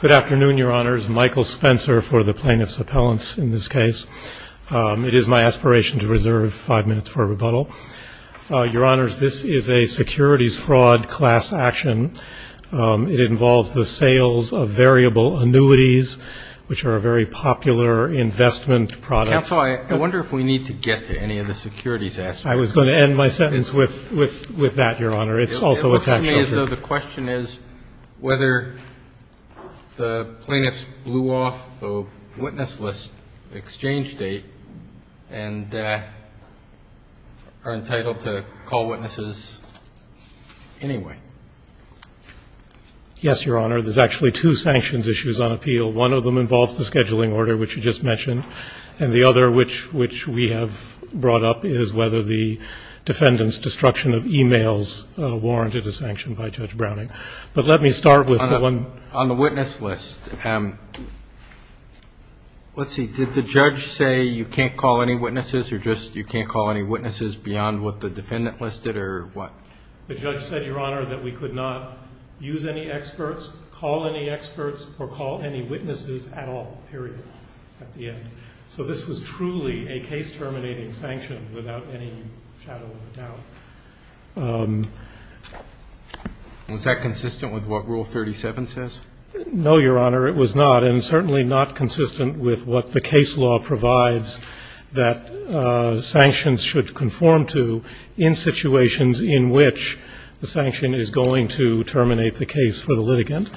Good afternoon, Your Honors. Michael Spencer for the Plaintiff's Appellants in this case. It is my aspiration to reserve five minutes for rebuttal. Your Honors, this is a securities fraud class action. It involves the sales of variable annuities, which are a very popular investment product. Counsel, I wonder if we need to get to any of the securities aspects. I was going to end my sentence with that, Your Honor. It's also a tax offer. It looks to me as though the question is whether the plaintiffs blew off the witness list exchange date and are entitled to call witnesses anyway. Yes, Your Honor. There's actually two sanctions issues on appeal. One of them involves the scheduling order, which you just mentioned, and the other, which we have brought up, is whether the defendant's destruction of e-mails warranted a sanction by Judge Browning. But let me start with the one On the witness list. Let's see. Did the judge say you can't call any witnesses or just you can't call any witnesses beyond what the defendant listed or what? The judge said, Your Honor, that we could not use any experts, call any experts, or call any witnesses at all, period, at the end. So this was truly a case terminating sanction without any shadow of a doubt. Was that consistent with what Rule 37 says? No, Your Honor, it was not, and certainly not consistent with what the case law provides that sanctions should conform to in situations in which the sanction is going to terminate the case for the litigant.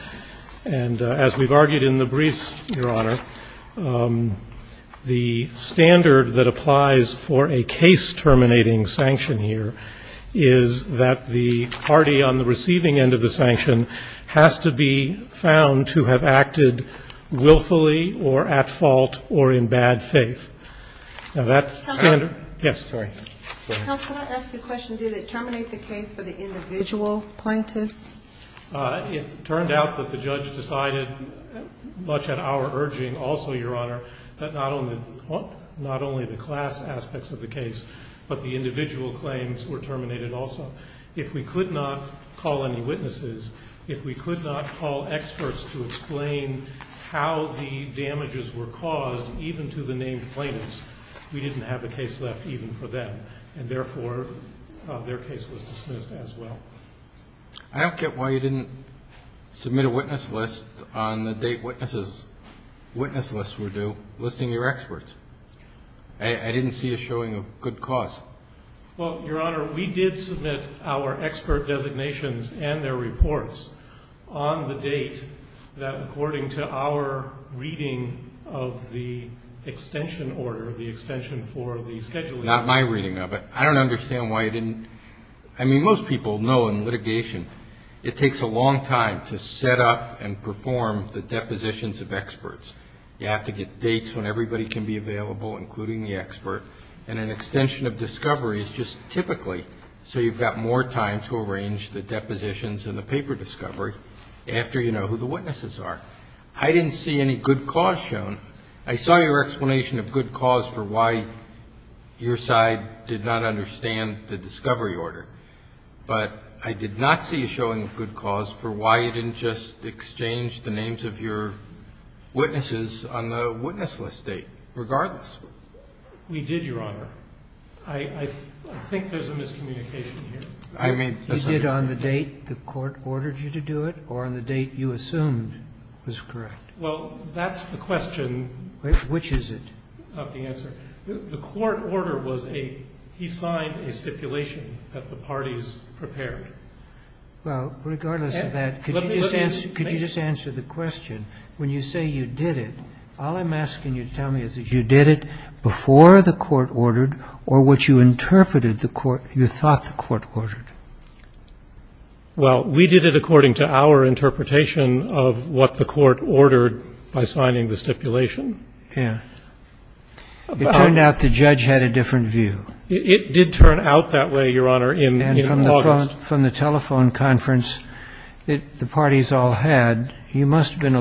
And as we've argued in the briefs, Your Honor, the standard that applies for a case terminating sanction here is that the party on the receiving end of the sanction has to be found to have acted willfully or at fault or in bad faith. Now, that standard Yes. Counsel, can I ask a question? Did it terminate the case for the individual plaintiffs? It turned out that the judge decided, much at our urging also, Your Honor, that not only the class aspects of the case, but the individual claims were terminated also. If we could not call any witnesses, if we could not call experts to explain how the damages were caused even to the named plaintiffs, we didn't have a case left even for them. And therefore, their case was dismissed as well. I don't get why you didn't submit a witness list on the date witnesses' witness lists were due, listing your experts. I didn't see it showing a good cause. Well, Your Honor, we did submit our expert designations and their reports on the date that according to our reading of the extension order, the extension for the scheduling. Not my reading of it. I don't understand why you didn't. I mean, most people know in litigation, it takes a long time to set up and perform the depositions of experts. You have to get dates when everybody can be available, including the expert. And an extension of discovery is just typically so you've got more time to arrange the depositions and the paper discovery after you know who the witnesses are. I didn't see any good cause shown. I saw your explanation of good cause for why your side did not understand the discovery order. But I did not see a showing of good cause for why you didn't just exchange the names of your witnesses on the date. We did, Your Honor. I think there's a miscommunication here. I mean, you did on the date the court ordered you to do it or on the date you assumed was correct? Well, that's the question. Which is it? Not the answer. The court order was a he signed a stipulation that the parties prepared. Well, regardless of that, could you just answer the question? When you say you did it, all I'm asking you to tell me is that you did it before the court ordered or what you interpreted the court, you thought the court ordered. Well, we did it according to our interpretation of what the court ordered by signing the stipulation. Yeah. It turned out the judge had a different view. It did turn out that way, Your Honor, in August. And from the telephone conference that the parties all had, you must have been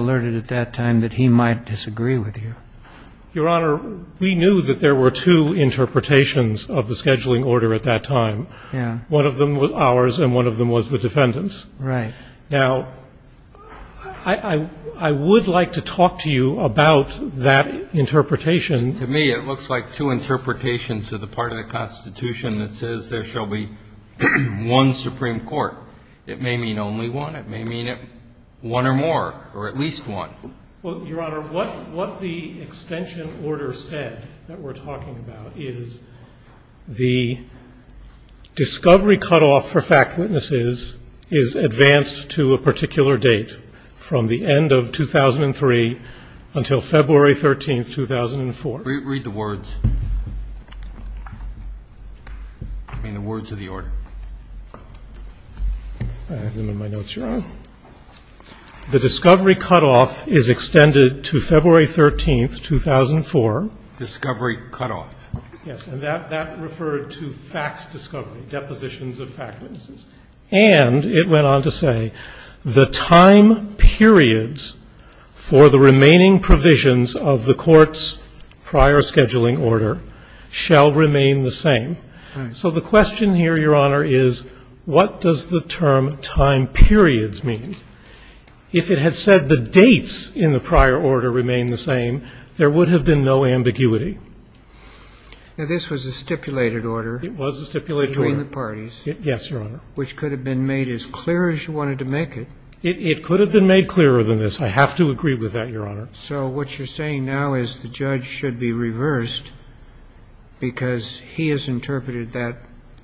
Your Honor, we knew that there were two interpretations of the scheduling order at that time. Yeah. One of them was ours and one of them was the defendant's. Right. Now, I would like to talk to you about that interpretation. To me, it looks like two interpretations of the part of the Constitution that says there shall be one Supreme Court. It may mean only one. It may mean one or more or at least one. Well, Your Honor, what the extension order said that we're talking about is the discovery cutoff for fact witnesses is advanced to a particular date from the end of 2003 until February 13, 2004. Read the words. I mean, the words of the order. I have them in my notes, Your Honor. The discovery cutoff is extended to February 13, 2004. Discovery cutoff. Yes, and that referred to facts discovery, depositions of facts. And it went on to say the time periods for the remaining provisions of the court's prior scheduling order shall remain the same. Right. So the question here, Your Honor, is what does the term time periods mean? If it had said the dates in the prior order remain the same, there would have been no ambiguity. Now, this was a stipulated order. It was a stipulated order. Between the parties. Yes, Your Honor. Which could have been made as clear as you wanted to make it. It could have been made clearer than this. I have to agree with that, Your Honor. So what you're saying now is the judge should be reversed because he has interpreted that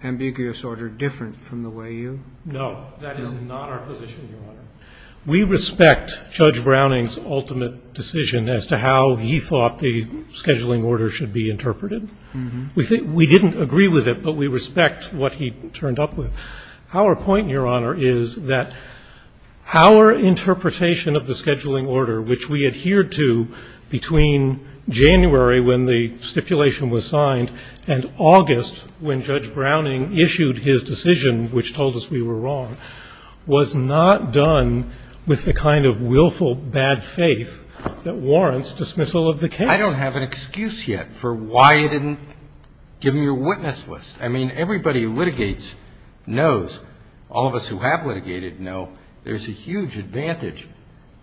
ambiguous order different from the way you. No. That is not our position, Your Honor. We respect Judge Browning's ultimate decision as to how he thought the scheduling order should be interpreted. We didn't agree with it, but we respect what he turned up with. Our point, Your Honor, is that our interpretation of the scheduling order, which we adhered to between January when the stipulation was signed and August when Judge Browning issued his decision, which told us we were wrong, was not done with the kind of willful bad faith that warrants dismissal of the case. I don't have an excuse yet for why you didn't give me your witness list. I mean, everybody who litigates knows, all of us who have litigated know, there's a huge advantage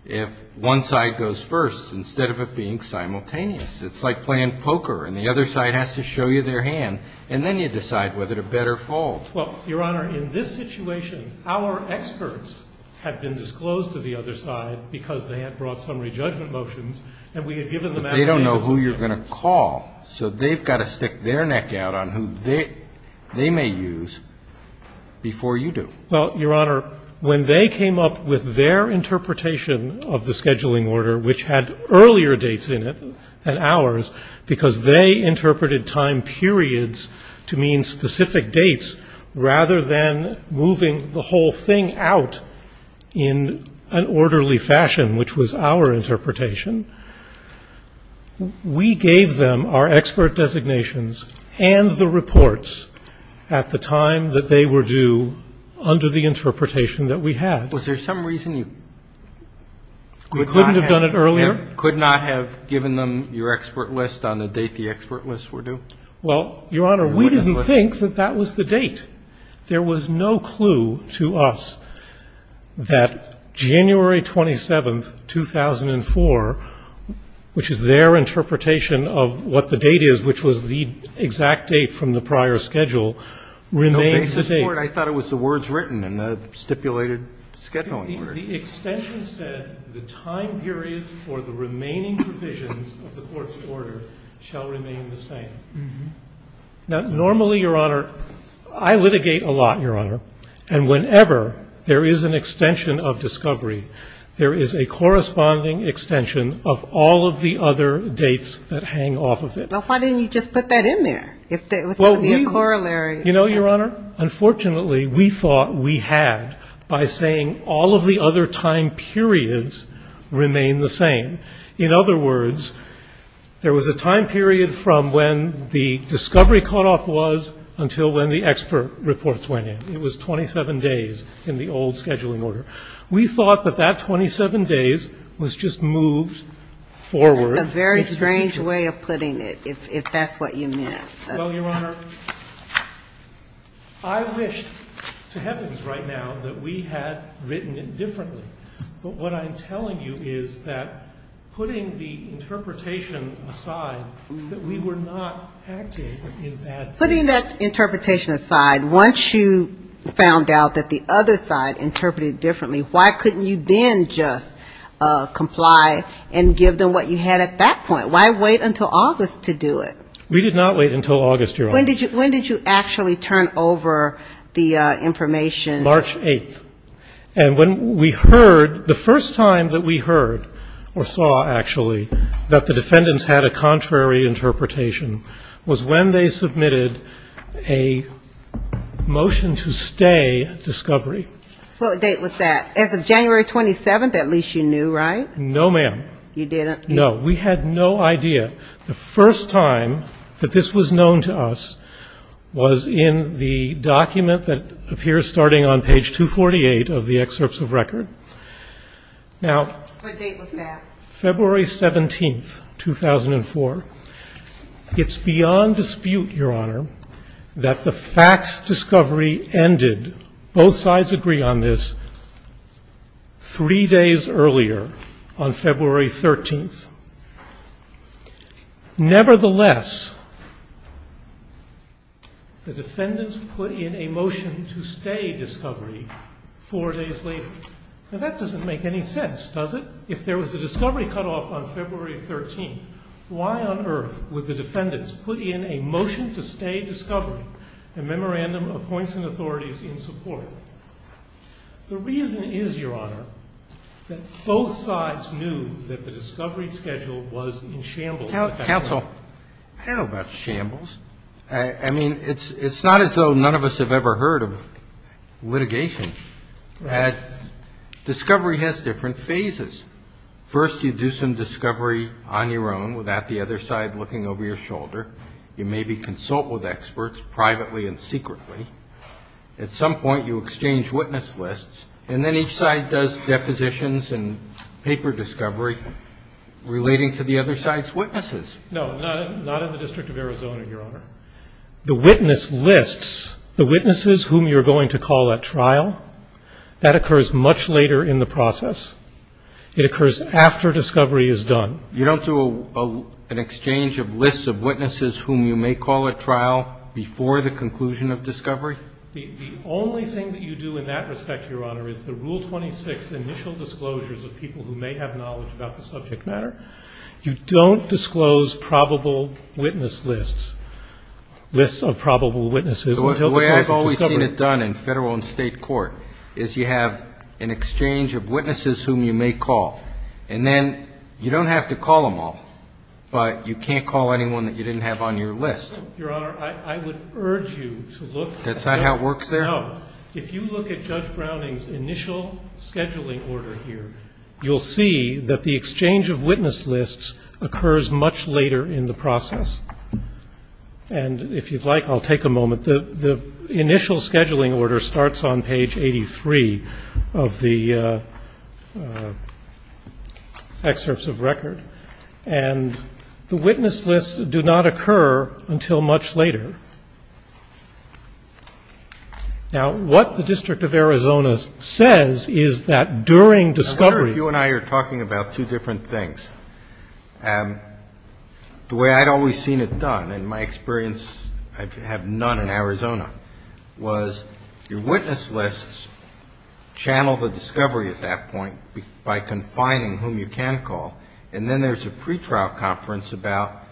if one side goes first instead of it being simultaneous. It's like playing poker, and the other side has to show you their hand, and then you decide whether to bet or fold. Well, Your Honor, in this situation, our experts had been disclosed to the other side because they had brought summary judgment motions, and we had given them. But they don't know who you're going to call, so they've got to stick their neck out on who they may use before you do. Well, Your Honor, when they came up with their interpretation of the scheduling order, which had earlier dates in it than ours because they interpreted time periods to mean specific dates rather than moving the whole thing out in an orderly fashion, which was our interpretation, we gave them our expert designations and the reports at the time that they were due under the interpretation that we had. Was there some reason you could not have given them your expert list on the date the expert list were due? Well, Your Honor, we didn't think that that was the date. There was no clue to us that January 27th, 2004, which is their interpretation of what the date is, which was the exact date from the prior schedule, remains the date. I thought it was the words written in the stipulated scheduling order. The extension said the time period for the remaining provisions of the court's order shall remain the same. Now, normally, Your Honor, I litigate a lot, Your Honor, and whenever there is an extension of discovery, there is a corresponding extension of all of the other dates that hang off of it. Well, why didn't you just put that in there if there was going to be a corollary? You know, Your Honor, unfortunately, we thought we had by saying all of the other time periods remain the same. In other words, there was a time period from when the discovery cutoff was until when the expert reports went in. It was 27 days in the old scheduling order. We thought that that 27 days was just moved forward. That's a very strange way of putting it, if that's what you meant. Well, Your Honor, I wish to heavens right now that we had written it differently. But what I'm telling you is that putting the interpretation aside, that we were not acting in that way. Putting that interpretation aside, once you found out that the other side interpreted it differently, why couldn't you then just comply and give them what you had at that point? Why wait until August to do it? We did not wait until August, Your Honor. When did you actually turn over the information? March 8th. And when we heard, the first time that we heard or saw, actually, that the defendants had a contrary interpretation was when they submitted a motion to stay discovery. What date was that? As of January 27th, at least you knew, right? No, ma'am. You didn't? No. We had no idea. The first time that this was known to us was in the document that appears starting on page 248 of the excerpts of record. What date was that? February 17th, 2004. It's beyond dispute, Your Honor, that the fact discovery ended, both sides agree on this, three days earlier, on February 13th. Nevertheless, the defendants put in a motion to stay discovery four days later. Now, that doesn't make any sense, does it? If there was a discovery cutoff on February 13th, why on earth would the defendants put in a motion to stay discovery, a memorandum of points and authorities in support? The reason is, Your Honor, that both sides knew that the discovery schedule was in shambles. Counsel, I don't know about shambles. I mean, it's not as though none of us have ever heard of litigation. Right. But discovery has different phases. First, you do some discovery on your own without the other side looking over your shoulder. You maybe consult with experts privately and secretly. At some point, you exchange witness lists, and then each side does depositions and paper discovery relating to the other side's witnesses. No, not in the District of Arizona, Your Honor. The witness lists, the witnesses whom you're going to call at trial, that occurs much later in the process. It occurs after discovery is done. You don't do an exchange of lists of witnesses whom you may call at trial before the conclusion of discovery? The only thing that you do in that respect, Your Honor, is the Rule 26 initial disclosures of people who may have knowledge about the subject matter. You don't disclose probable witness lists, lists of probable witnesses until the point of discovery. The way I've always seen it done in Federal and State court is you have an exchange of witnesses whom you may call, and then you don't have to call them all, but you can't call anyone that you didn't have on your list. Your Honor, I would urge you to look. That's not how it works there? No. If you look at Judge Browning's initial scheduling order here, you'll see that the occurs much later in the process. And if you'd like, I'll take a moment. The initial scheduling order starts on page 83 of the excerpts of record, and the witness lists do not occur until much later. Now, what the District of Arizona says is that during discovery you're going to call, and the way I'd always seen it done, and my experience, I have none in Arizona, was your witness lists channel the discovery at that point by confining whom you can call, and then there's a pretrial conference about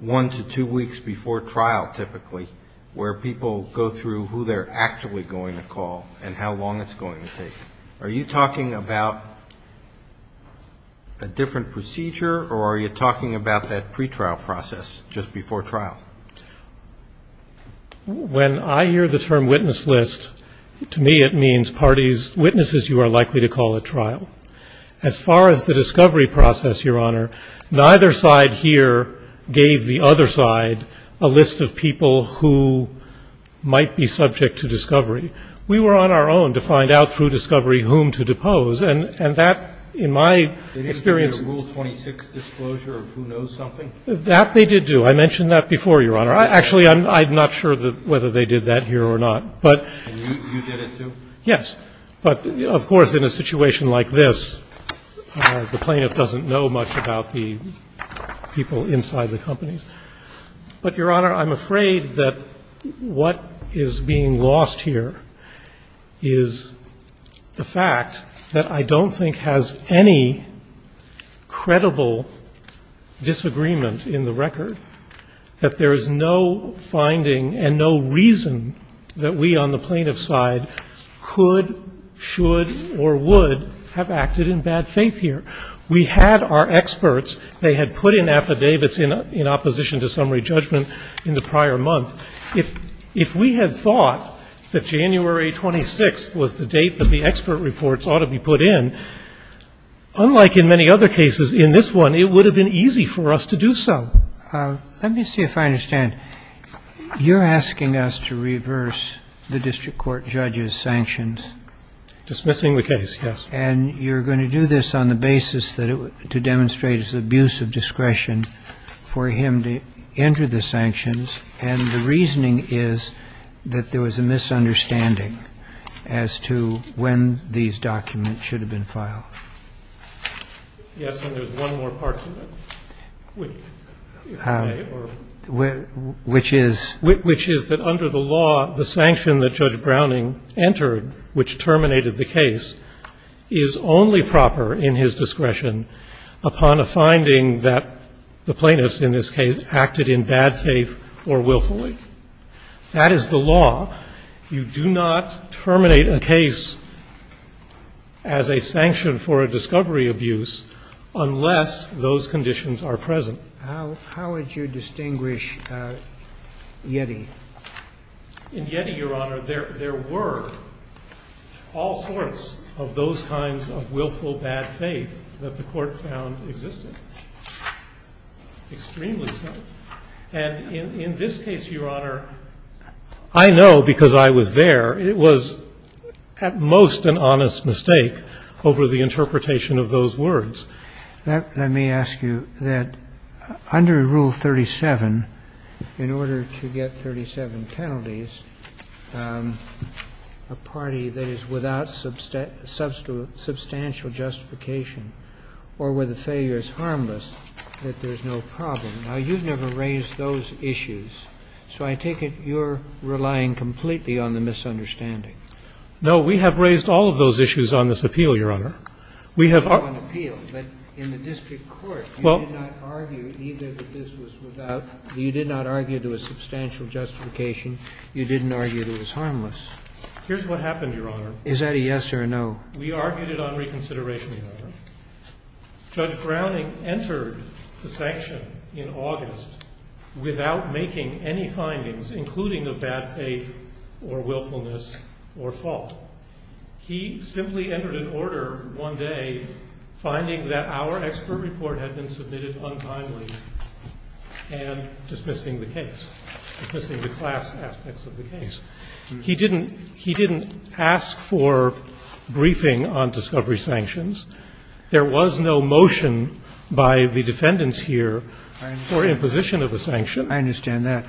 one to two weeks before trial, typically, where people go through who they're actually going to trial. When I hear the term witness list, to me it means parties, witnesses you are likely to call at trial. As far as the discovery process, Your Honor, neither side here gave the other side a list of people who might be subject to discovery. We were on our own to find out through discovery whom to depose, and that, in my experience. That they did do. I mentioned that before, Your Honor. Actually, I'm not sure whether they did that here or not. Yes. But, of course, in a situation like this, the plaintiff doesn't know much about the people inside the companies. But, Your Honor, I'm afraid that what is being lost here is the fact that I don't think has any credible disagreement in the record, that there is no finding and no reason that we on the plaintiff's side could, should or would have acted in bad faith here. We had our experts, they had put in affidavits in opposition to summary judgment in the prior month. If we had thought that January 26th was the date that the expert reports ought to be put in, unlike in many other cases in this one, it would have been easy for us to do so. Let me see if I understand. You're asking us to reverse the district court judge's sanctions. Dismissing the case, yes. And you're going to do this on the basis that to demonstrate his abuse of discretion for him to enter the sanctions, and the reasoning is that there was a misunderstanding as to when these documents should have been filed. Yes, and there's one more part to that. Which is? Which is that under the law, the sanction that Judge Browning entered, which terminated the case, is only proper in his discretion upon a finding that the plaintiffs in this case acted in bad faith or willfully. That is the law. You do not terminate a case as a sanction for a discovery abuse unless those conditions are present. How would you distinguish Yeti? In Yeti, Your Honor, there were all sorts of those kinds of willful bad faith that the court found existed. Extremely so. And in this case, Your Honor, I know because I was there, it was at most an honest mistake over the interpretation of those words. Let me ask you that under Rule 37, in order to get 37 penalties, a party that is without substantial justification or where the failure is harmless, that there's no problem. Now, you've never raised those issues, so I take it you're relying completely on the misunderstanding. No, we have raised all of those issues on this appeal, Your Honor. On appeal, but in the district court, you did not argue either that this was without or you did not argue there was substantial justification. You didn't argue that it was harmless. Here's what happened, Your Honor. Is that a yes or a no? We argued it on reconsideration, Your Honor. Judge Browning entered the sanction in August without making any findings, including of bad faith or willfulness or fault. He simply entered an order one day finding that our expert report had been submitted untimely and dismissing the case, dismissing the class aspects of the case. He didn't ask for briefing on discovery sanctions. There was no motion by the defendants here for imposition of a sanction. I understand that.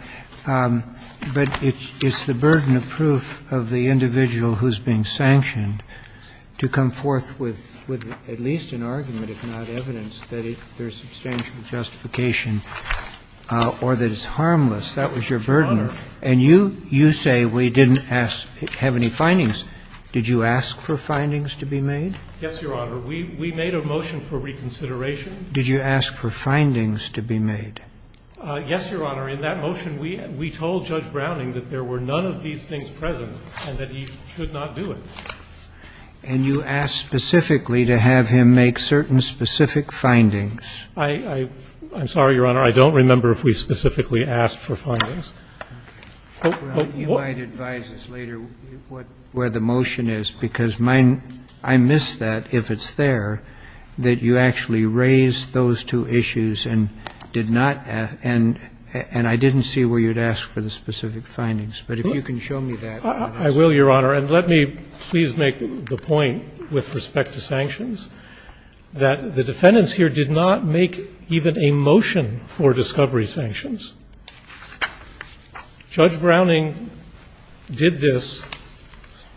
But it's the burden of proof of the individual who's being sanctioned to come forth with at least an argument, if not evidence, that there's substantial justification or that it's harmless. That was your burden. Your Honor. And you say we didn't have any findings. Did you ask for findings to be made? Yes, Your Honor. We made a motion for reconsideration. Did you ask for findings to be made? Yes, Your Honor. In that motion, we told Judge Browning that there were none of these things present and that he should not do it. And you asked specifically to have him make certain specific findings. I'm sorry, Your Honor. I don't remember if we specifically asked for findings. He might advise us later where the motion is, because I miss that, if it's there, that you actually raised those two issues and did not ask, and I didn't see where you'd ask for the specific findings. But if you can show me that. I will, Your Honor. And let me please make the point with respect to sanctions that the defendants here did not make even a motion for discovery sanctions. Judge Browning did this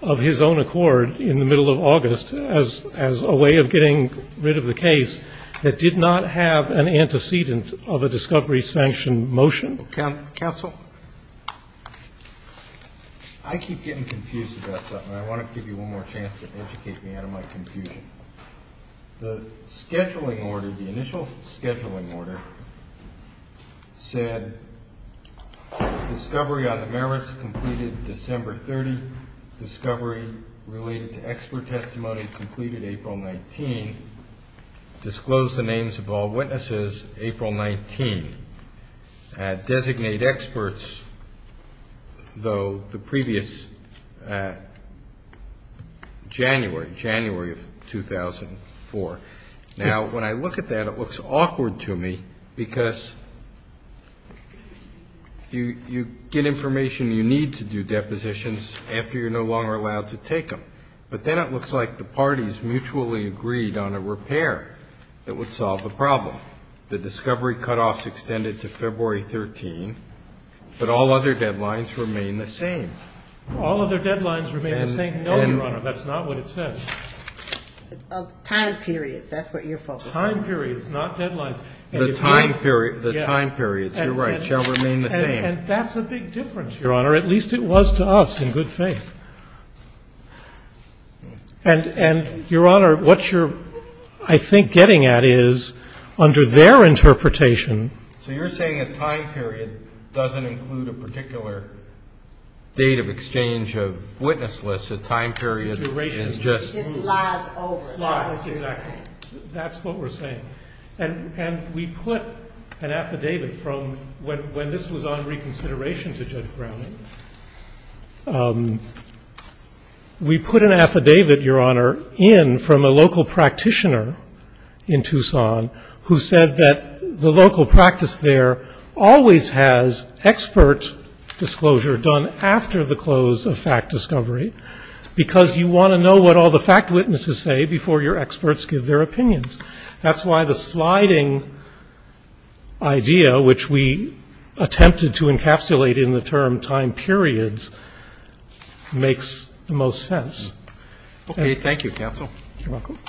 of his own accord in the middle of August as a way of getting rid of the case that did not have an antecedent of a discovery sanction motion. Counsel? I keep getting confused about something. I want to give you one more chance to educate me out of my confusion. The scheduling order, the initial scheduling order, said discovery on the merits completed December 30, discovery related to expert testimony completed April 19. Disclose the names of all witnesses April 19. Designate experts, though, the previous January, January of 2004. Now, when I look at that, it looks awkward to me, because you get information you need to do depositions after you're no longer allowed to take them. But then it looks like the parties mutually agreed on a repair that would solve the problem. The discovery cutoffs extended to February 13, but all other deadlines remain the same. All other deadlines remain the same? No, Your Honor, that's not what it says. Time periods, that's what you're focusing on. Time periods, not deadlines. The time periods, you're right, shall remain the same. And that's a big difference, Your Honor. At least it was to us, in good faith. And, Your Honor, what you're, I think, getting at is, under their interpretation So you're saying a time period doesn't include a particular date of exchange of witness A time period is just It slides over. Exactly. That's what we're saying. And we put an affidavit from, when this was on reconsideration to Judge Browning, we put an affidavit, Your Honor, in from a local practitioner in Tucson, who said that the local practice there always has expert disclosure done after the close of fact discovery, because you want to know what all the fact witnesses say before your experts give their opinions. That's why the sliding idea, which we attempted to encapsulate in the term time periods, makes the most sense. Thank you, counsel. You're welcome. Rex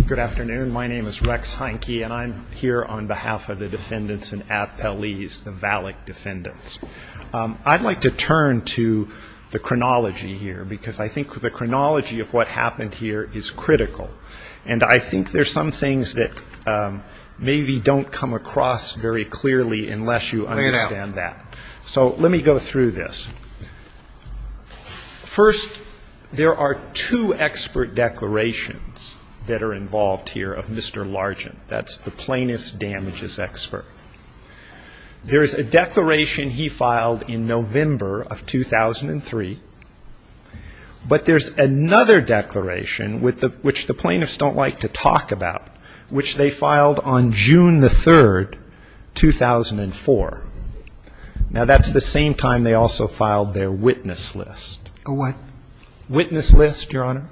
Heinke. Good afternoon. My name is Rex Heinke, and I'm here on behalf of the defendants in Appellee's, the Valak defendants. I'd like to turn to the chronology here, because I think the chronology of what happened here is critical. And I think there's some things that maybe don't come across very clearly unless you understand that. So let me go through this. First, there are two expert declarations that are involved here of Mr. Largent. That's the plaintiff's damages expert. There is a declaration he filed in November of 2003, but there's another declaration which the plaintiffs don't like to talk about, which they filed on June the 3rd, 2004. Now, that's the same time they also filed their witness list. A what? Witness list, Your Honor.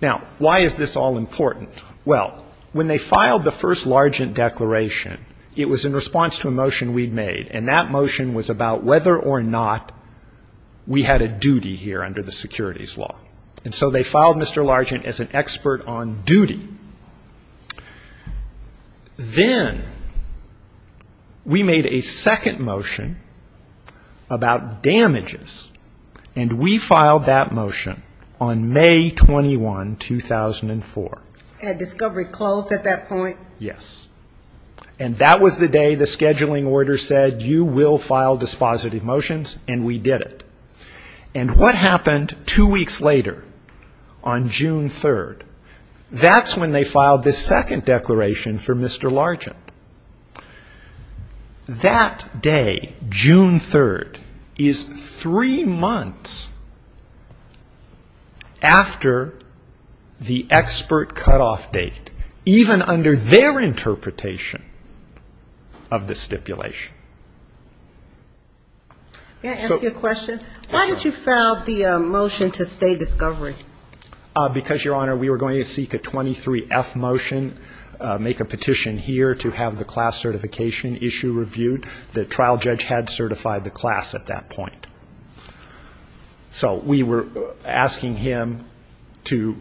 Now, why is this all important? Well, when they filed the first Largent declaration, it was in response to a motion we'd made. And that motion was about whether or not we had a duty here under the securities law. And so they filed Mr. Largent as an expert on duty. Then we made a second motion about damages, and we filed that motion on May 21, 2004. At discovery close at that point? Yes. And that was the day the scheduling order said, you will file dispositive motions, and we did it. And what happened two weeks later, on June 3rd? That's when they filed the second declaration for Mr. Largent. That day, June 3rd, is three months after the expert cutoff date. Even under their interpretation of the stipulation. May I ask you a question? Why did you file the motion to stay discovery? Because, Your Honor, we were going to seek a 23-F motion, make a petition here to have the class certification issue reviewed. The trial judge had certified the class at that point. So we were asking him to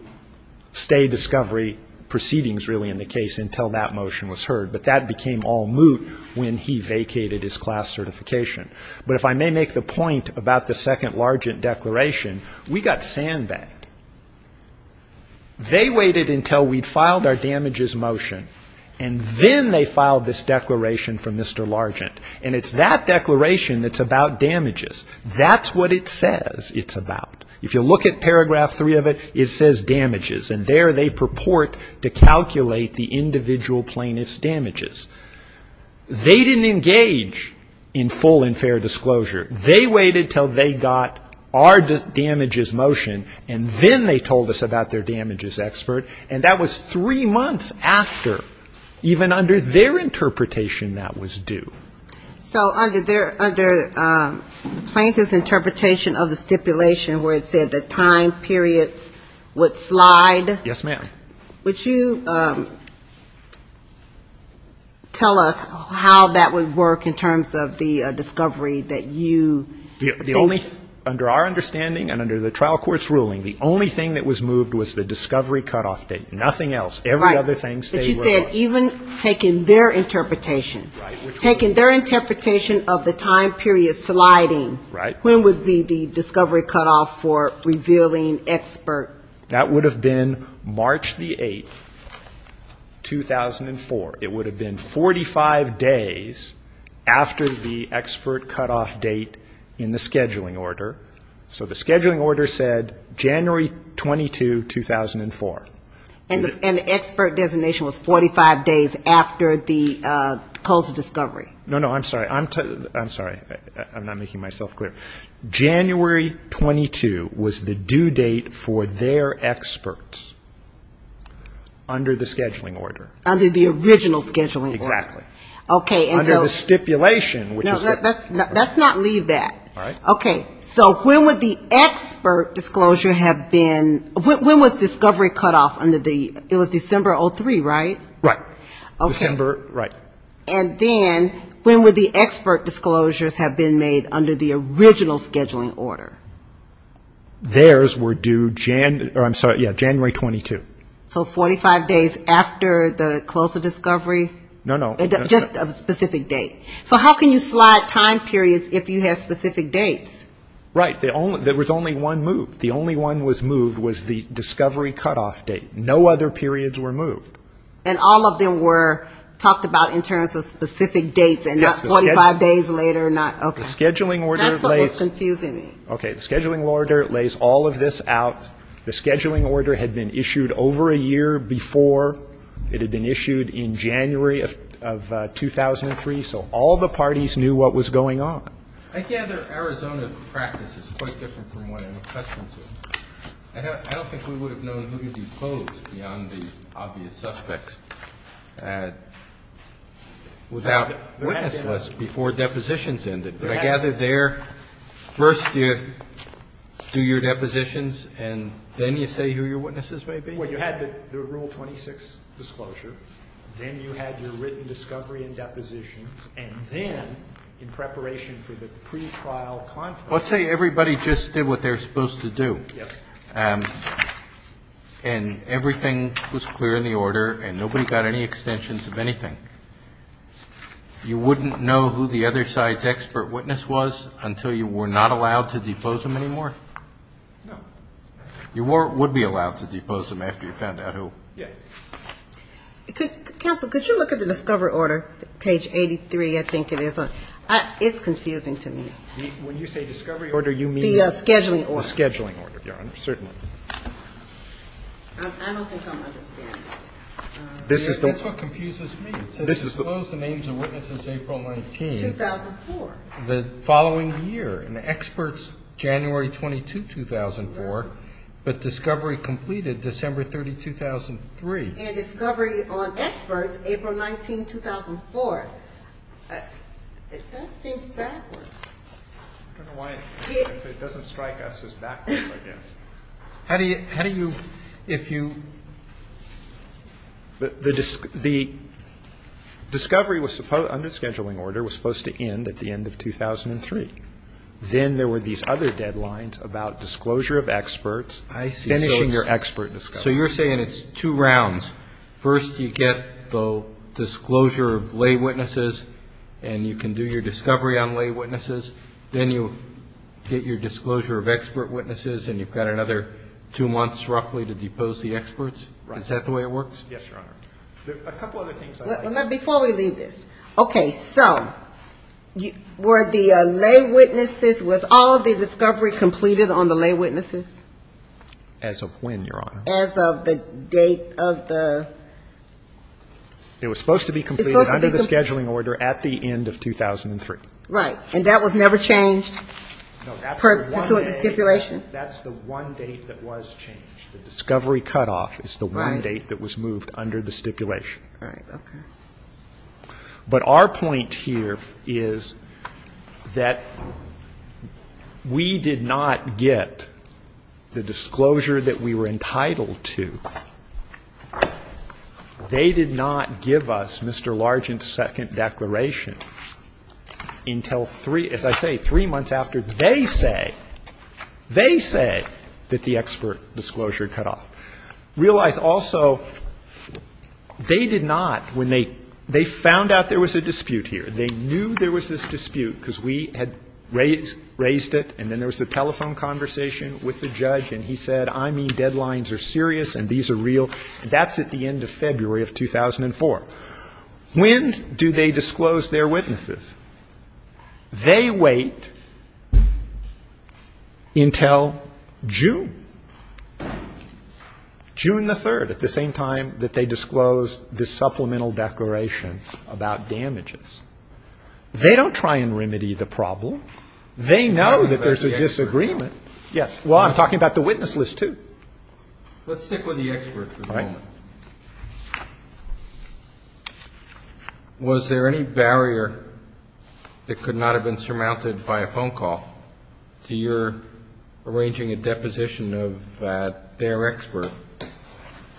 stay discovery proceedings, really, in the case, until that motion was heard. But that became all moot when he vacated his class certification. But if I may make the point about the second Largent declaration, we got sandbagged. They waited until we filed our damages motion, and then they filed this declaration for Mr. Largent. And it's that declaration that's about damages. That's what it says it's about. If you look at paragraph three of it, it says damages. And there they purport to calculate the individual plaintiff's damages. They didn't engage in full and fair disclosure. They waited until they got our damages motion, and then they told us about their damages expert. And that was three months after, even under their interpretation, that was due. So under the plaintiff's interpretation of the stipulation where it said the time periods would slide? Yes, ma'am. Would you tell us how that would work in terms of the discovery that you think? The only, under our understanding and under the trial court's ruling, the only thing that was moved was the discovery cutoff date, nothing else. Right. Every other thing stayed with us. But you said even taking their interpretation. Right. Taking their interpretation of the time period sliding. Right. When would be the discovery cutoff for revealing expert? That would have been March the 8th, 2004. It would have been 45 days after the expert cutoff date in the scheduling order. So the scheduling order said January 22, 2004. And the expert designation was 45 days after the close of discovery. No, no. I'm sorry. I'm sorry. I'm not making myself clear. January 22 was the due date for their experts under the scheduling order. Under the original scheduling order. Exactly. Okay. Under the stipulation. Let's not leave that. Okay. So when would the expert disclosure have been, when was discovery cutoff under the, it was December 03, right? Right. December, right. And then when would the expert disclosures have been made under the original scheduling order? Theirs were due January, I'm sorry, yeah, January 22. So 45 days after the close of discovery? No, no. Just a specific date. Okay. So how can you slide time periods if you have specific dates? Right. There was only one move. The only one was moved was the discovery cutoff date. No other periods were moved. And all of them were talked about in terms of specific dates and not 45 days later, not, okay. That's what was confusing me. Okay. The scheduling order lays all of this out. The scheduling order had been issued over a year before it had been issued in January of 2003. So all the parties knew what was going on. I gather Arizona practice is quite different from what I'm accustomed to. I don't think we would have known who to depose beyond the obvious suspects without witness lists before depositions ended. But I gather there first you do your depositions and then you say who your witnesses may be? Well, you had the Rule 26 disclosure. Then you had your written discovery and depositions. And then in preparation for the pretrial conference. Let's say everybody just did what they were supposed to do. Yes. And everything was clear in the order and nobody got any extensions of anything. You wouldn't know who the other side's expert witness was until you were not allowed to depose them anymore? No. You would be allowed to depose them after you found out who. Yes. Counsel, could you look at the discovery order, page 83? I think it is. It's confusing to me. When you say discovery order, you mean? The scheduling order. The scheduling order, Your Honor. Certainly. I don't think I'm understanding. That's what confuses me. It says, Close the names of witnesses April 19. 2004. The following year. And the expert's January 22, 2004. But discovery completed December 30, 2003. And discovery on expert's April 19, 2004. That seems backwards. I don't know why it doesn't strike us as backwards, I guess. How do you, if you. The discovery under the scheduling order was supposed to end at the end of 2003. Then there were these other deadlines about disclosure of experts. I see. Finishing your expert discovery. So you're saying it's two rounds. First, you get the disclosure of lay witnesses, and you can do your discovery on lay witnesses. Then you get your disclosure of expert witnesses, and you've got another two months, roughly, to depose the experts? Right. Is that the way it works? Yes, Your Honor. A couple other things. Before we leave this. Okay. So were the lay witnesses, was all the discovery completed on the lay witnesses? As of when, Your Honor? As of the date of the. It was supposed to be completed under the scheduling order at the end of 2003. Right. And that was never changed pursuant to stipulation? That's the one date that was changed. The discovery cutoff is the one date that was moved under the stipulation. All right. Okay. But our point here is that we did not get the disclosure that we were entitled to. They did not give us Mr. Largent's second declaration until three, as I say, three months after they say, they say that the expert disclosure cutoff. Realize, also, they did not, when they found out there was a dispute here, they knew there was this dispute, because we had raised it, and then there was a telephone conversation with the judge, and he said, I mean, deadlines are serious and these are real. That's at the end of February of 2004. When do they disclose their witnesses? They wait until June, June the 3rd, at the same time that they disclose this supplemental declaration about damages. They don't try and remedy the problem. They know that there's a disagreement. Yes. Well, I'm talking about the witness list, too. Let's stick with the experts for a moment. All right. Was there any barrier that could not have been surmounted by a phone call to your arranging a deposition of their expert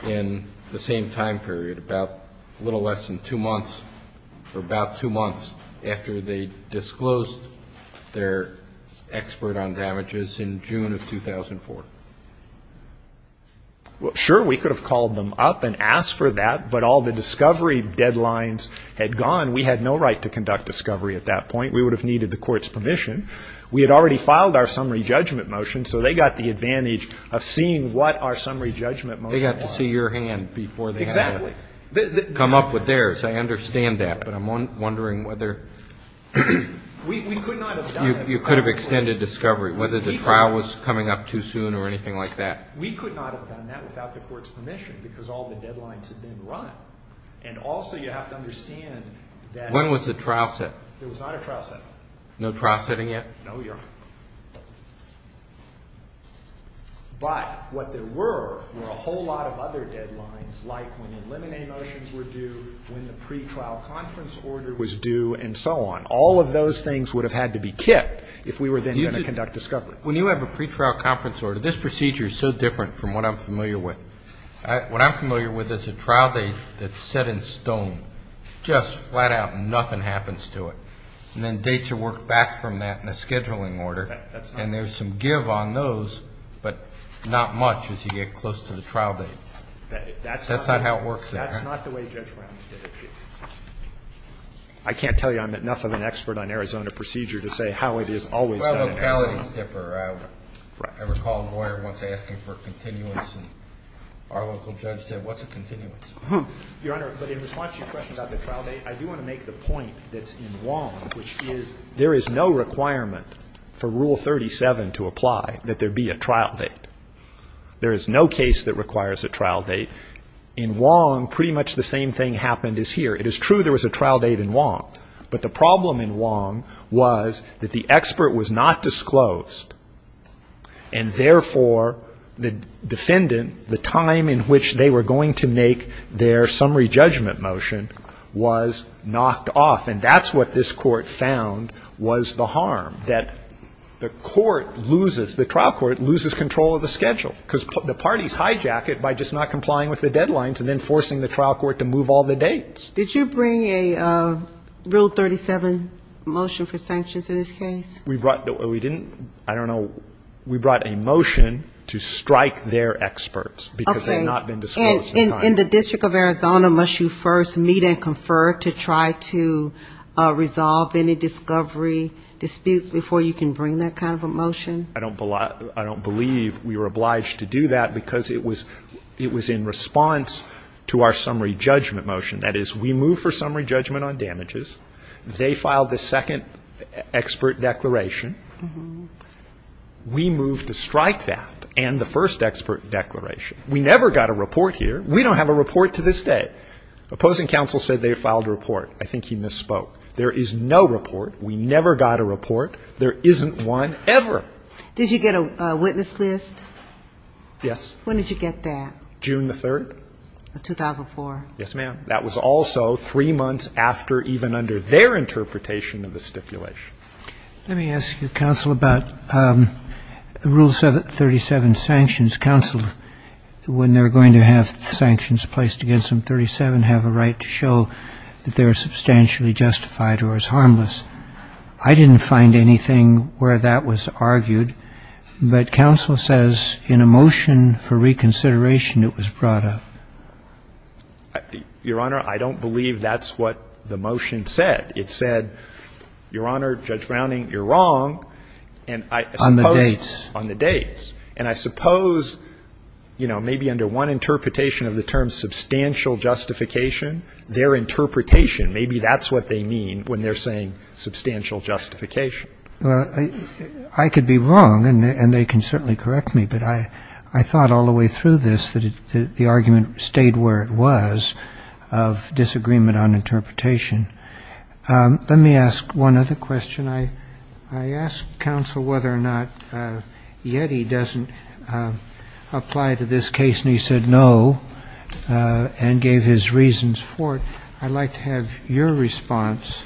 in the same time period, about a little less than two months, or about two months after they disclosed their expert on damages in June of 2004? Well, sure, we could have called them up and asked for that, but all the discovery deadlines had gone. We had no right to conduct discovery at that point. We would have needed the court's permission. We had already filed our summary judgment motion, so they got the advantage of seeing what our summary judgment motion was. They got to see your hand before they had to come up with theirs. I understand that, but I'm wondering whether you could have extended discovery, whether the trial was coming up too soon or anything like that. We could not have done that without the court's permission, because all the deadlines had been run. And also you have to understand that. When was the trial set? There was not a trial set. No trial setting yet? No, Your Honor. But what there were were a whole lot of other deadlines, like when the limine motions were due, when the pretrial conference order was due, and so on. And all of those things would have had to be kept if we were then going to conduct discovery. When you have a pretrial conference order, this procedure is so different from what I'm familiar with. What I'm familiar with is a trial date that's set in stone, just flat out, nothing happens to it. And then dates are worked back from that in a scheduling order. That's not. And there's some give on those, but not much as you get close to the trial date. That's not how it works there. That's not the way Judge Brown did it, Chief. I can't tell you I'm enough of an expert on Arizona procedure to say how it is always done in Arizona. Well, locality is different. I recall a lawyer once asking for a continuance, and our local judge said, what's a continuance? Your Honor, but in response to your question about the trial date, I do want to make the point that's in Wong, which is there is no requirement for Rule 37 to apply that there be a trial date. There is no case that requires a trial date. In Wong, pretty much the same thing happened as here. It is true there was a trial date in Wong, but the problem in Wong was that the expert was not disclosed, and therefore the defendant, the time in which they were going to make their summary judgment motion, was knocked off. And that's what this Court found was the harm, that the Court loses, the trial Court loses control of the schedule, because the parties hijack it by just not complying with the deadlines and then forcing the trial Court to move all the dates. Did you bring a Rule 37 motion for sanctions in this case? We didn't. I don't know. We brought a motion to strike their experts, because they had not been disclosed. Okay. In the District of Arizona, must you first meet and confer to try to resolve any discovery disputes before you can bring that kind of a motion? I don't believe we were obliged to do that, because it was in response to our summary judgment motion. That is, we move for summary judgment on damages. They filed the second expert declaration. We moved to strike that and the first expert declaration. We never got a report here. We don't have a report to this day. Opposing counsel said they filed a report. I think he misspoke. There is no report. We never got a report. There isn't one ever. Did you get a witness list? Yes. When did you get that? June the 3rd. Of 2004. Yes, ma'am. That was also three months after even under their interpretation of the stipulation. Let me ask you, counsel, about Rule 37 sanctions. Counsel, when they're going to have sanctions placed against them, 37 have a right to show that they are substantially justified or is harmless. I didn't find anything where that was argued, but counsel says in a motion for reconsideration it was brought up. Your Honor, I don't believe that's what the motion said. It said, Your Honor, Judge Browning, you're wrong. On the dates. On the dates. And I suppose, you know, maybe under one interpretation of the term substantial justification, their interpretation, maybe that's what they mean when they're saying substantial justification. Well, I could be wrong and they can certainly correct me, but I thought all the way through this that the argument stayed where it was of disagreement on interpretation. Let me ask one other question. I asked counsel whether or not Yeti doesn't apply to this case, and he said no and gave his reasons for it. I'd like to have your response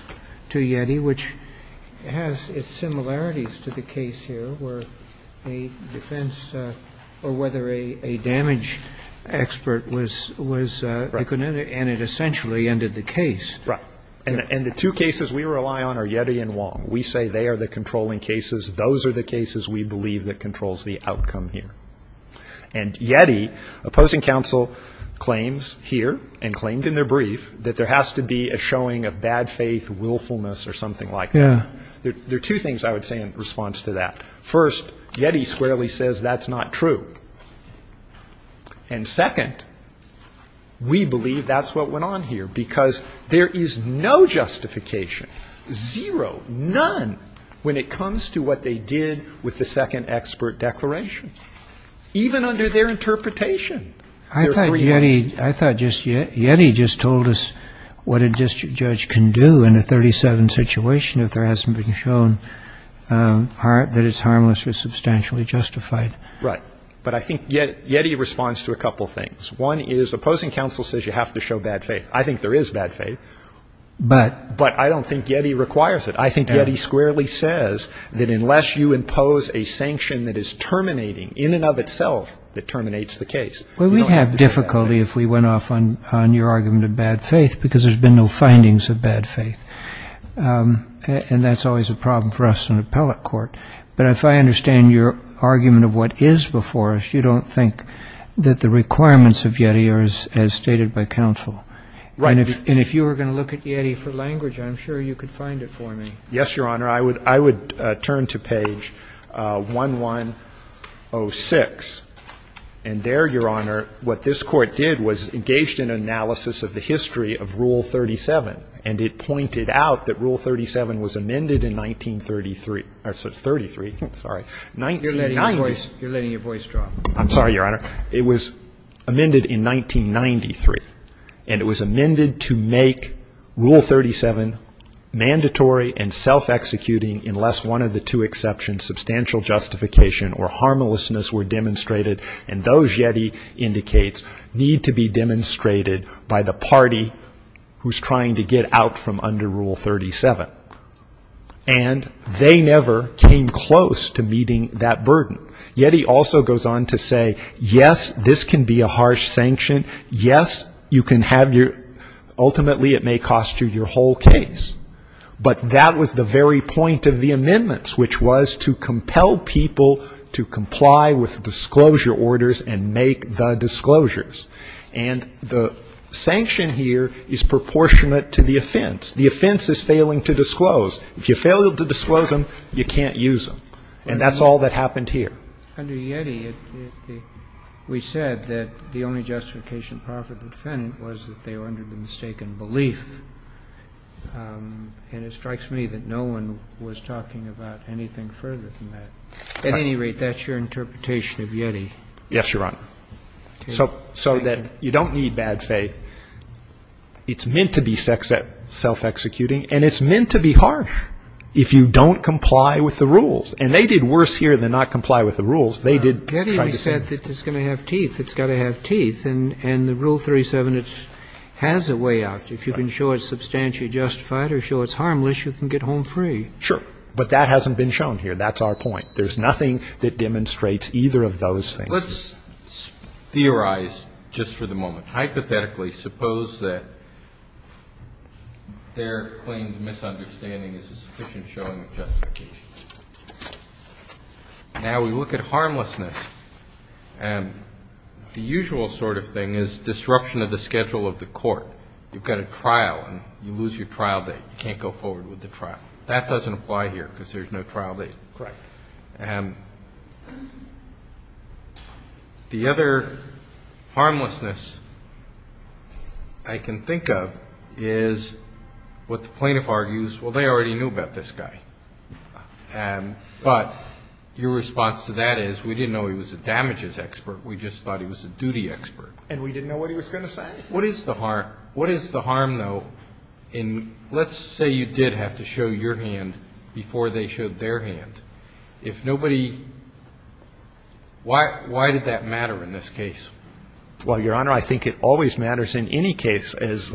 to Yeti, which has its similarities to the case here where a defense or whether a damage expert was, was, and it essentially ended the case. Right. And the two cases we rely on are Yeti and Wong. We say they are the controlling cases. Those are the cases we believe that controls the outcome here. And Yeti, opposing counsel, claims here and claimed in their brief that there has to be a showing of bad faith, willfulness or something like that. Yeah. There are two things I would say in response to that. First, Yeti squarely says that's not true. And second, we believe that's what went on here, because there is no justification, zero, none, when it comes to what they did with the second expert declaration, even under their interpretation. I thought Yeti, I thought just Yeti just told us what a district judge can do in a 37 situation if there hasn't been shown that it's harmless or substantially justified. Right. But I think Yeti responds to a couple things. One is opposing counsel says you have to show bad faith. I think there is bad faith. But? But I don't think Yeti requires it. I think Yeti squarely says that unless you impose a sanction that is terminating in and of itself that terminates the case, you don't have to show bad faith. Well, we'd have difficulty if we went off on your argument of bad faith, because there's been no findings of bad faith. And that's always a problem for us in appellate court. But if I understand your argument of what is before us, you don't think that the requirements of Yeti are as stated by counsel. Right. And if you were going to look at Yeti for language, I'm sure you could find it for me. Yes, Your Honor. I would turn to page 1106. And there, Your Honor, what this Court did was engaged in an analysis of the history of Rule 37. And it pointed out that Rule 37 was amended in 1933 or 33, sorry, 1990. You're letting your voice drop. I'm sorry, Your Honor. It was amended in 1993. And it was amended to make Rule 37 mandatory and self-executing unless one of the two exceptions, substantial justification or harmlessness, were demonstrated. And those, Yeti indicates, need to be demonstrated by the party who's trying to get out from under Rule 37. And they never came close to meeting that burden. Yeti also goes on to say, yes, this can be a harsh sanction. Yes, you can have your, ultimately it may cost you your whole case. But that was the very point of the amendments, which was to compel people to disclose your orders and make the disclosures. And the sanction here is proportionate to the offense. The offense is failing to disclose. If you fail to disclose them, you can't use them. And that's all that happened here. Under Yeti, we said that the only justification proper for the defendant was that they were under the mistaken belief. And it strikes me that no one was talking about anything further than that. At any rate, that's your interpretation of Yeti. Yes, Your Honor. So that you don't need bad faith. It's meant to be self-executing. And it's meant to be harsh if you don't comply with the rules. And they did worse here than not comply with the rules. They did try to save it. Yeti said that it's going to have teeth. It's got to have teeth. And the Rule 37, it has a way out. If you can show it's substantially justified or show it's harmless, you can get home free. Sure. But that hasn't been shown here. That's our point. There's nothing that demonstrates either of those things. Let's theorize just for the moment. Hypothetically, suppose that their claimed misunderstanding is a sufficient showing of justification. Now we look at harmlessness. The usual sort of thing is disruption of the schedule of the court. You've got a trial and you lose your trial date. You can't go forward with the trial. That doesn't apply here because there's no trial date. Correct. The other harmlessness I can think of is what the plaintiff argues, well, they already knew about this guy. But your response to that is we didn't know he was a damages expert. We just thought he was a duty expert. And we didn't know what he was going to say? What is the harm, though, in let's say you did have to show your hand before they showed their hand. If nobody, why did that matter in this case? Well, Your Honor, I think it always matters in any case. As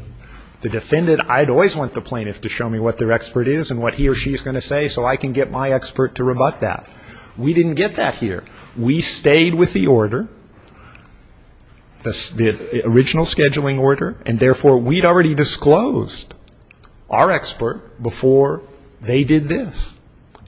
the defendant, I'd always want the plaintiff to show me what their expert is and what he or she is going to say so I can get my expert to rebut that. We didn't get that here. We stayed with the order. The original scheduling order. And, therefore, we'd already disclosed our expert before they did this.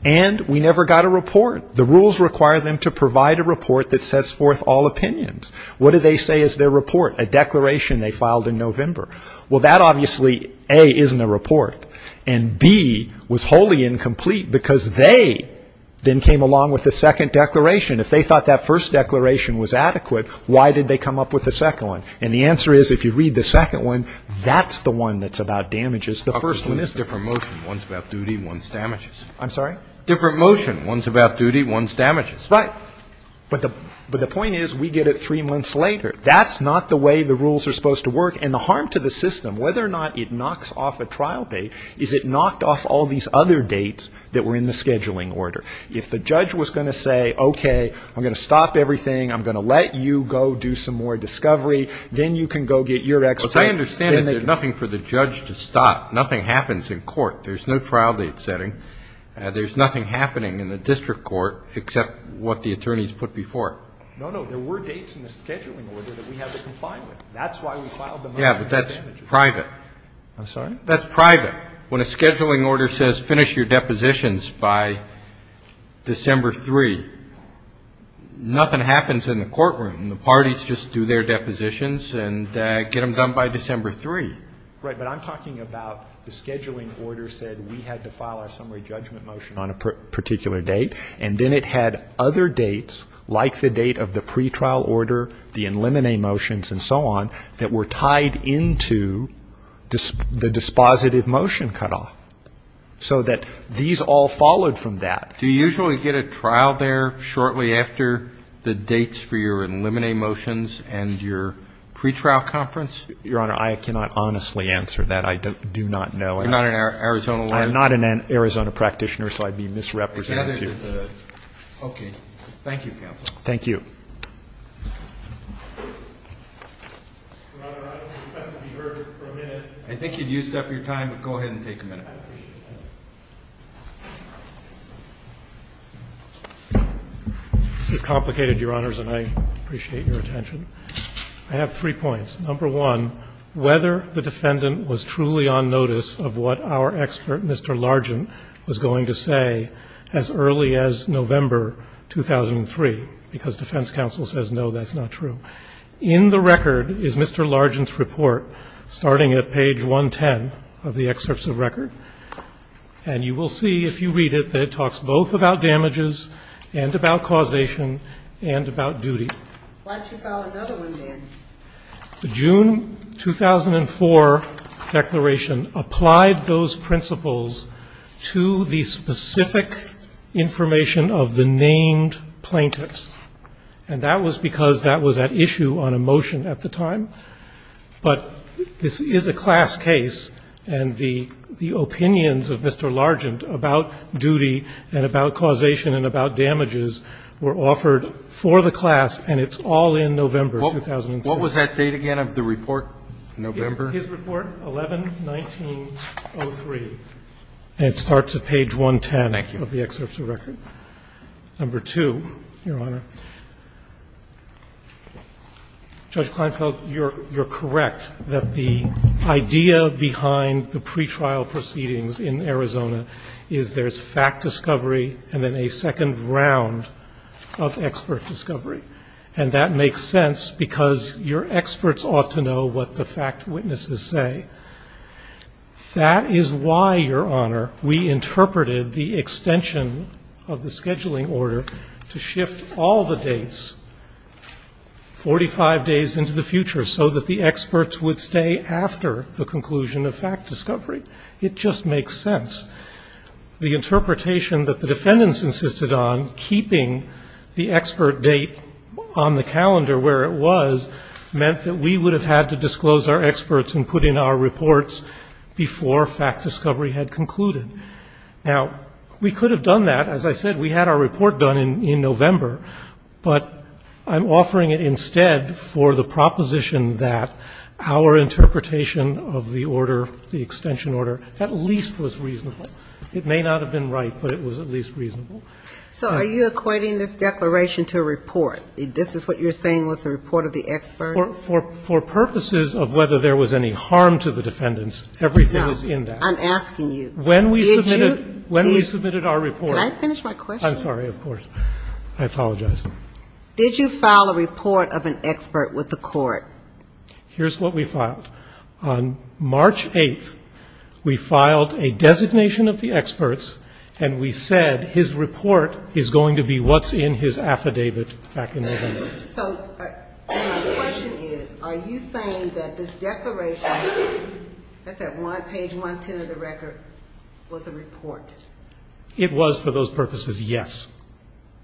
And we never got a report. The rules require them to provide a report that sets forth all opinions. What do they say is their report? A declaration they filed in November. Well, that obviously, A, isn't a report. And, B, was wholly incomplete because they then came along with a second declaration. If they thought that first declaration was adequate, why did they come up with a second one? And the answer is, if you read the second one, that's the one that's about damages. The first one isn't. Different motion. One's about duty, one's damages. I'm sorry? Different motion. One's about duty, one's damages. Right. But the point is, we get it three months later. That's not the way the rules are supposed to work. And the harm to the system, whether or not it knocks off a trial date, is it knocked off all these other dates that were in the scheduling order. If the judge was going to say, okay, I'm going to stop everything, I'm going to let you go do some more discovery, then you can go get your exit. Well, as I understand it, there's nothing for the judge to stop. Nothing happens in court. There's no trial date setting. There's nothing happening in the district court except what the attorneys put before it. No, no. There were dates in the scheduling order that we have the compliance with. That's why we filed them under damages. Yeah, but that's private. I'm sorry? That's private. When a scheduling order says finish your depositions by December 3, nothing happens in the courtroom. The parties just do their depositions and get them done by December 3. Right. But I'm talking about the scheduling order said we had to file our summary judgment motion on a particular date. And then it had other dates, like the date of the pretrial order, the in limine motions and so on, that were tied into the dispositive motion cutoff. So that these all followed from that. Do you usually get a trial there shortly after the dates for your in limine motions and your pretrial conference? Your Honor, I cannot honestly answer that. I do not know. You're not an Arizona lawyer? I'm not an Arizona practitioner, so I'd be misrepresenting you. Okay. Thank you, counsel. Thank you. Your Honor, I would request to be heard for a minute. I think you've used up your time, but go ahead and take a minute. I appreciate that. This is complicated, Your Honors, and I appreciate your attention. I have three points. Number one, whether the defendant was truly on notice of what our expert, Mr. Largent, was going to say as early as November 2003, because defense counsel says, no, that's not true. In the record is Mr. Largent's report, starting at page 110 of the excerpts of record. And you will see, if you read it, that it talks both about damages and about causation and about duty. Why don't you follow another one, then? The June 2004 declaration applied those principles to the specific information of the named plaintiffs. And that was because that was at issue on a motion at the time. But this is a class case, and the opinions of Mr. Largent about duty and about causation and about damages were offered for the class, and it's all in November 2003. What was that date again of the report? November? His report, 11-19-03. And it starts at page 110 of the excerpts of record. Number two, Your Honor. Judge Kleinfeld, you're correct that the idea behind the pretrial proceedings in Arizona is there's fact discovery and then a second round of expert discovery. And that makes sense because your experts ought to know what the fact witnesses say. That is why, Your Honor, we interpreted the extension of the scheduling order to shift all the dates 45 days into the future so that the experts would stay after the conclusion of fact discovery. It just makes sense. The interpretation that the defendants insisted on, keeping the expert date on the calendar where it was, meant that we would have had to disclose our experts and put in our reports before fact discovery had concluded. Now, we could have done that. As I said, we had our report done in November, but I'm offering it instead for the proposition that our interpretation of the order, the extension order, at least was reasonable. It may not have been right, but it was at least reasonable. So are you equating this declaration to a report? This is what you're saying was the report of the experts? For purposes of whether there was any harm to the defendants, everything is in there. I'm asking you. When we submitted our report. Can I finish my question? I'm sorry, of course. I apologize. Did you file a report of an expert with the court? Here's what we filed. On March 8th, we filed a designation of the experts, and we said his report is going to be what's in his affidavit back in November. So my question is, are you saying that this declaration, that's at page 110 of the record, was a report? It was for those purposes, yes.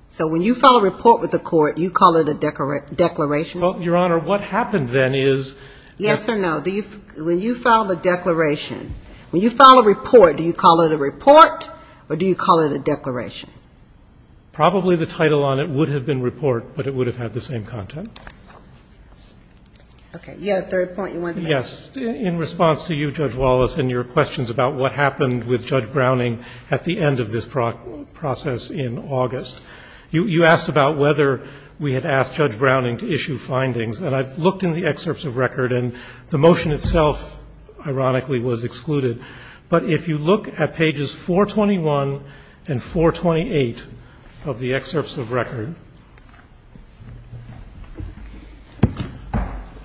So when you file a report with the court, you call it a declaration? Well, Your Honor, what happened then is that the expert. Yes or no, when you filed a declaration, when you file a report, do you call it a report or do you call it a declaration? Probably the title on it would have been report, but it would have had the same content. Okay. You had a third point you wanted to make. Yes. In response to you, Judge Wallace, and your questions about what happened with Judge Browning at the end of this process in August, you asked about whether we had asked Judge Browning to issue findings. And I've looked in the excerpts of record, and the motion itself, ironically, was excluded. But if you look at pages 421 and 428 of the excerpts of record,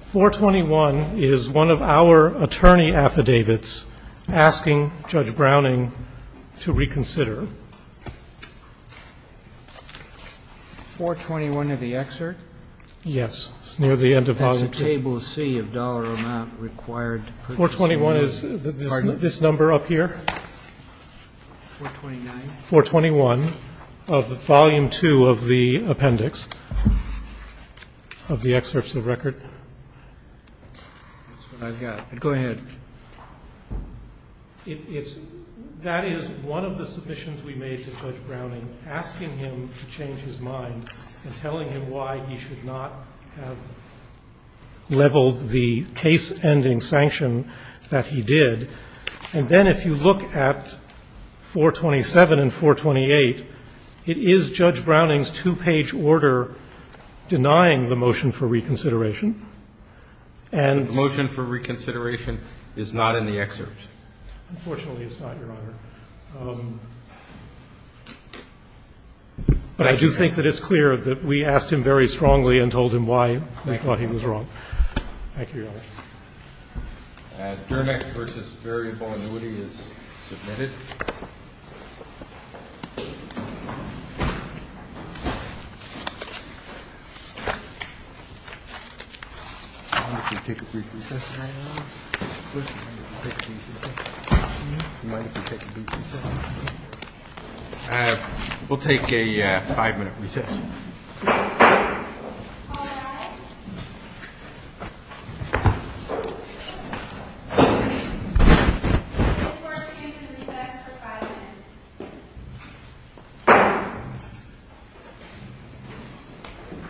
421 is one of our attorney affidavits asking Judge Browning to reconsider. 421 of the excerpt? Yes. It's near the end of volume two. 421 is this number up here? 421 of volume two of the appendix of the excerpts of record? That's what I've got. Go ahead. That is one of the submissions we made to Judge Browning, asking him to change his mind and telling him why he should not have leveled the case-ending sanction that he did. And then if you look at 427 and 428, it is Judge Browning's two-page order denying the motion for reconsideration. And the motion for reconsideration is not in the excerpt. Unfortunately, it's not, Your Honor. But I do think that it's clear that we asked him very strongly and told him why we thought he was wrong. Dermic versus variable annuity is submitted. We'll take a five-minute recess. We'll take a five-minute recess.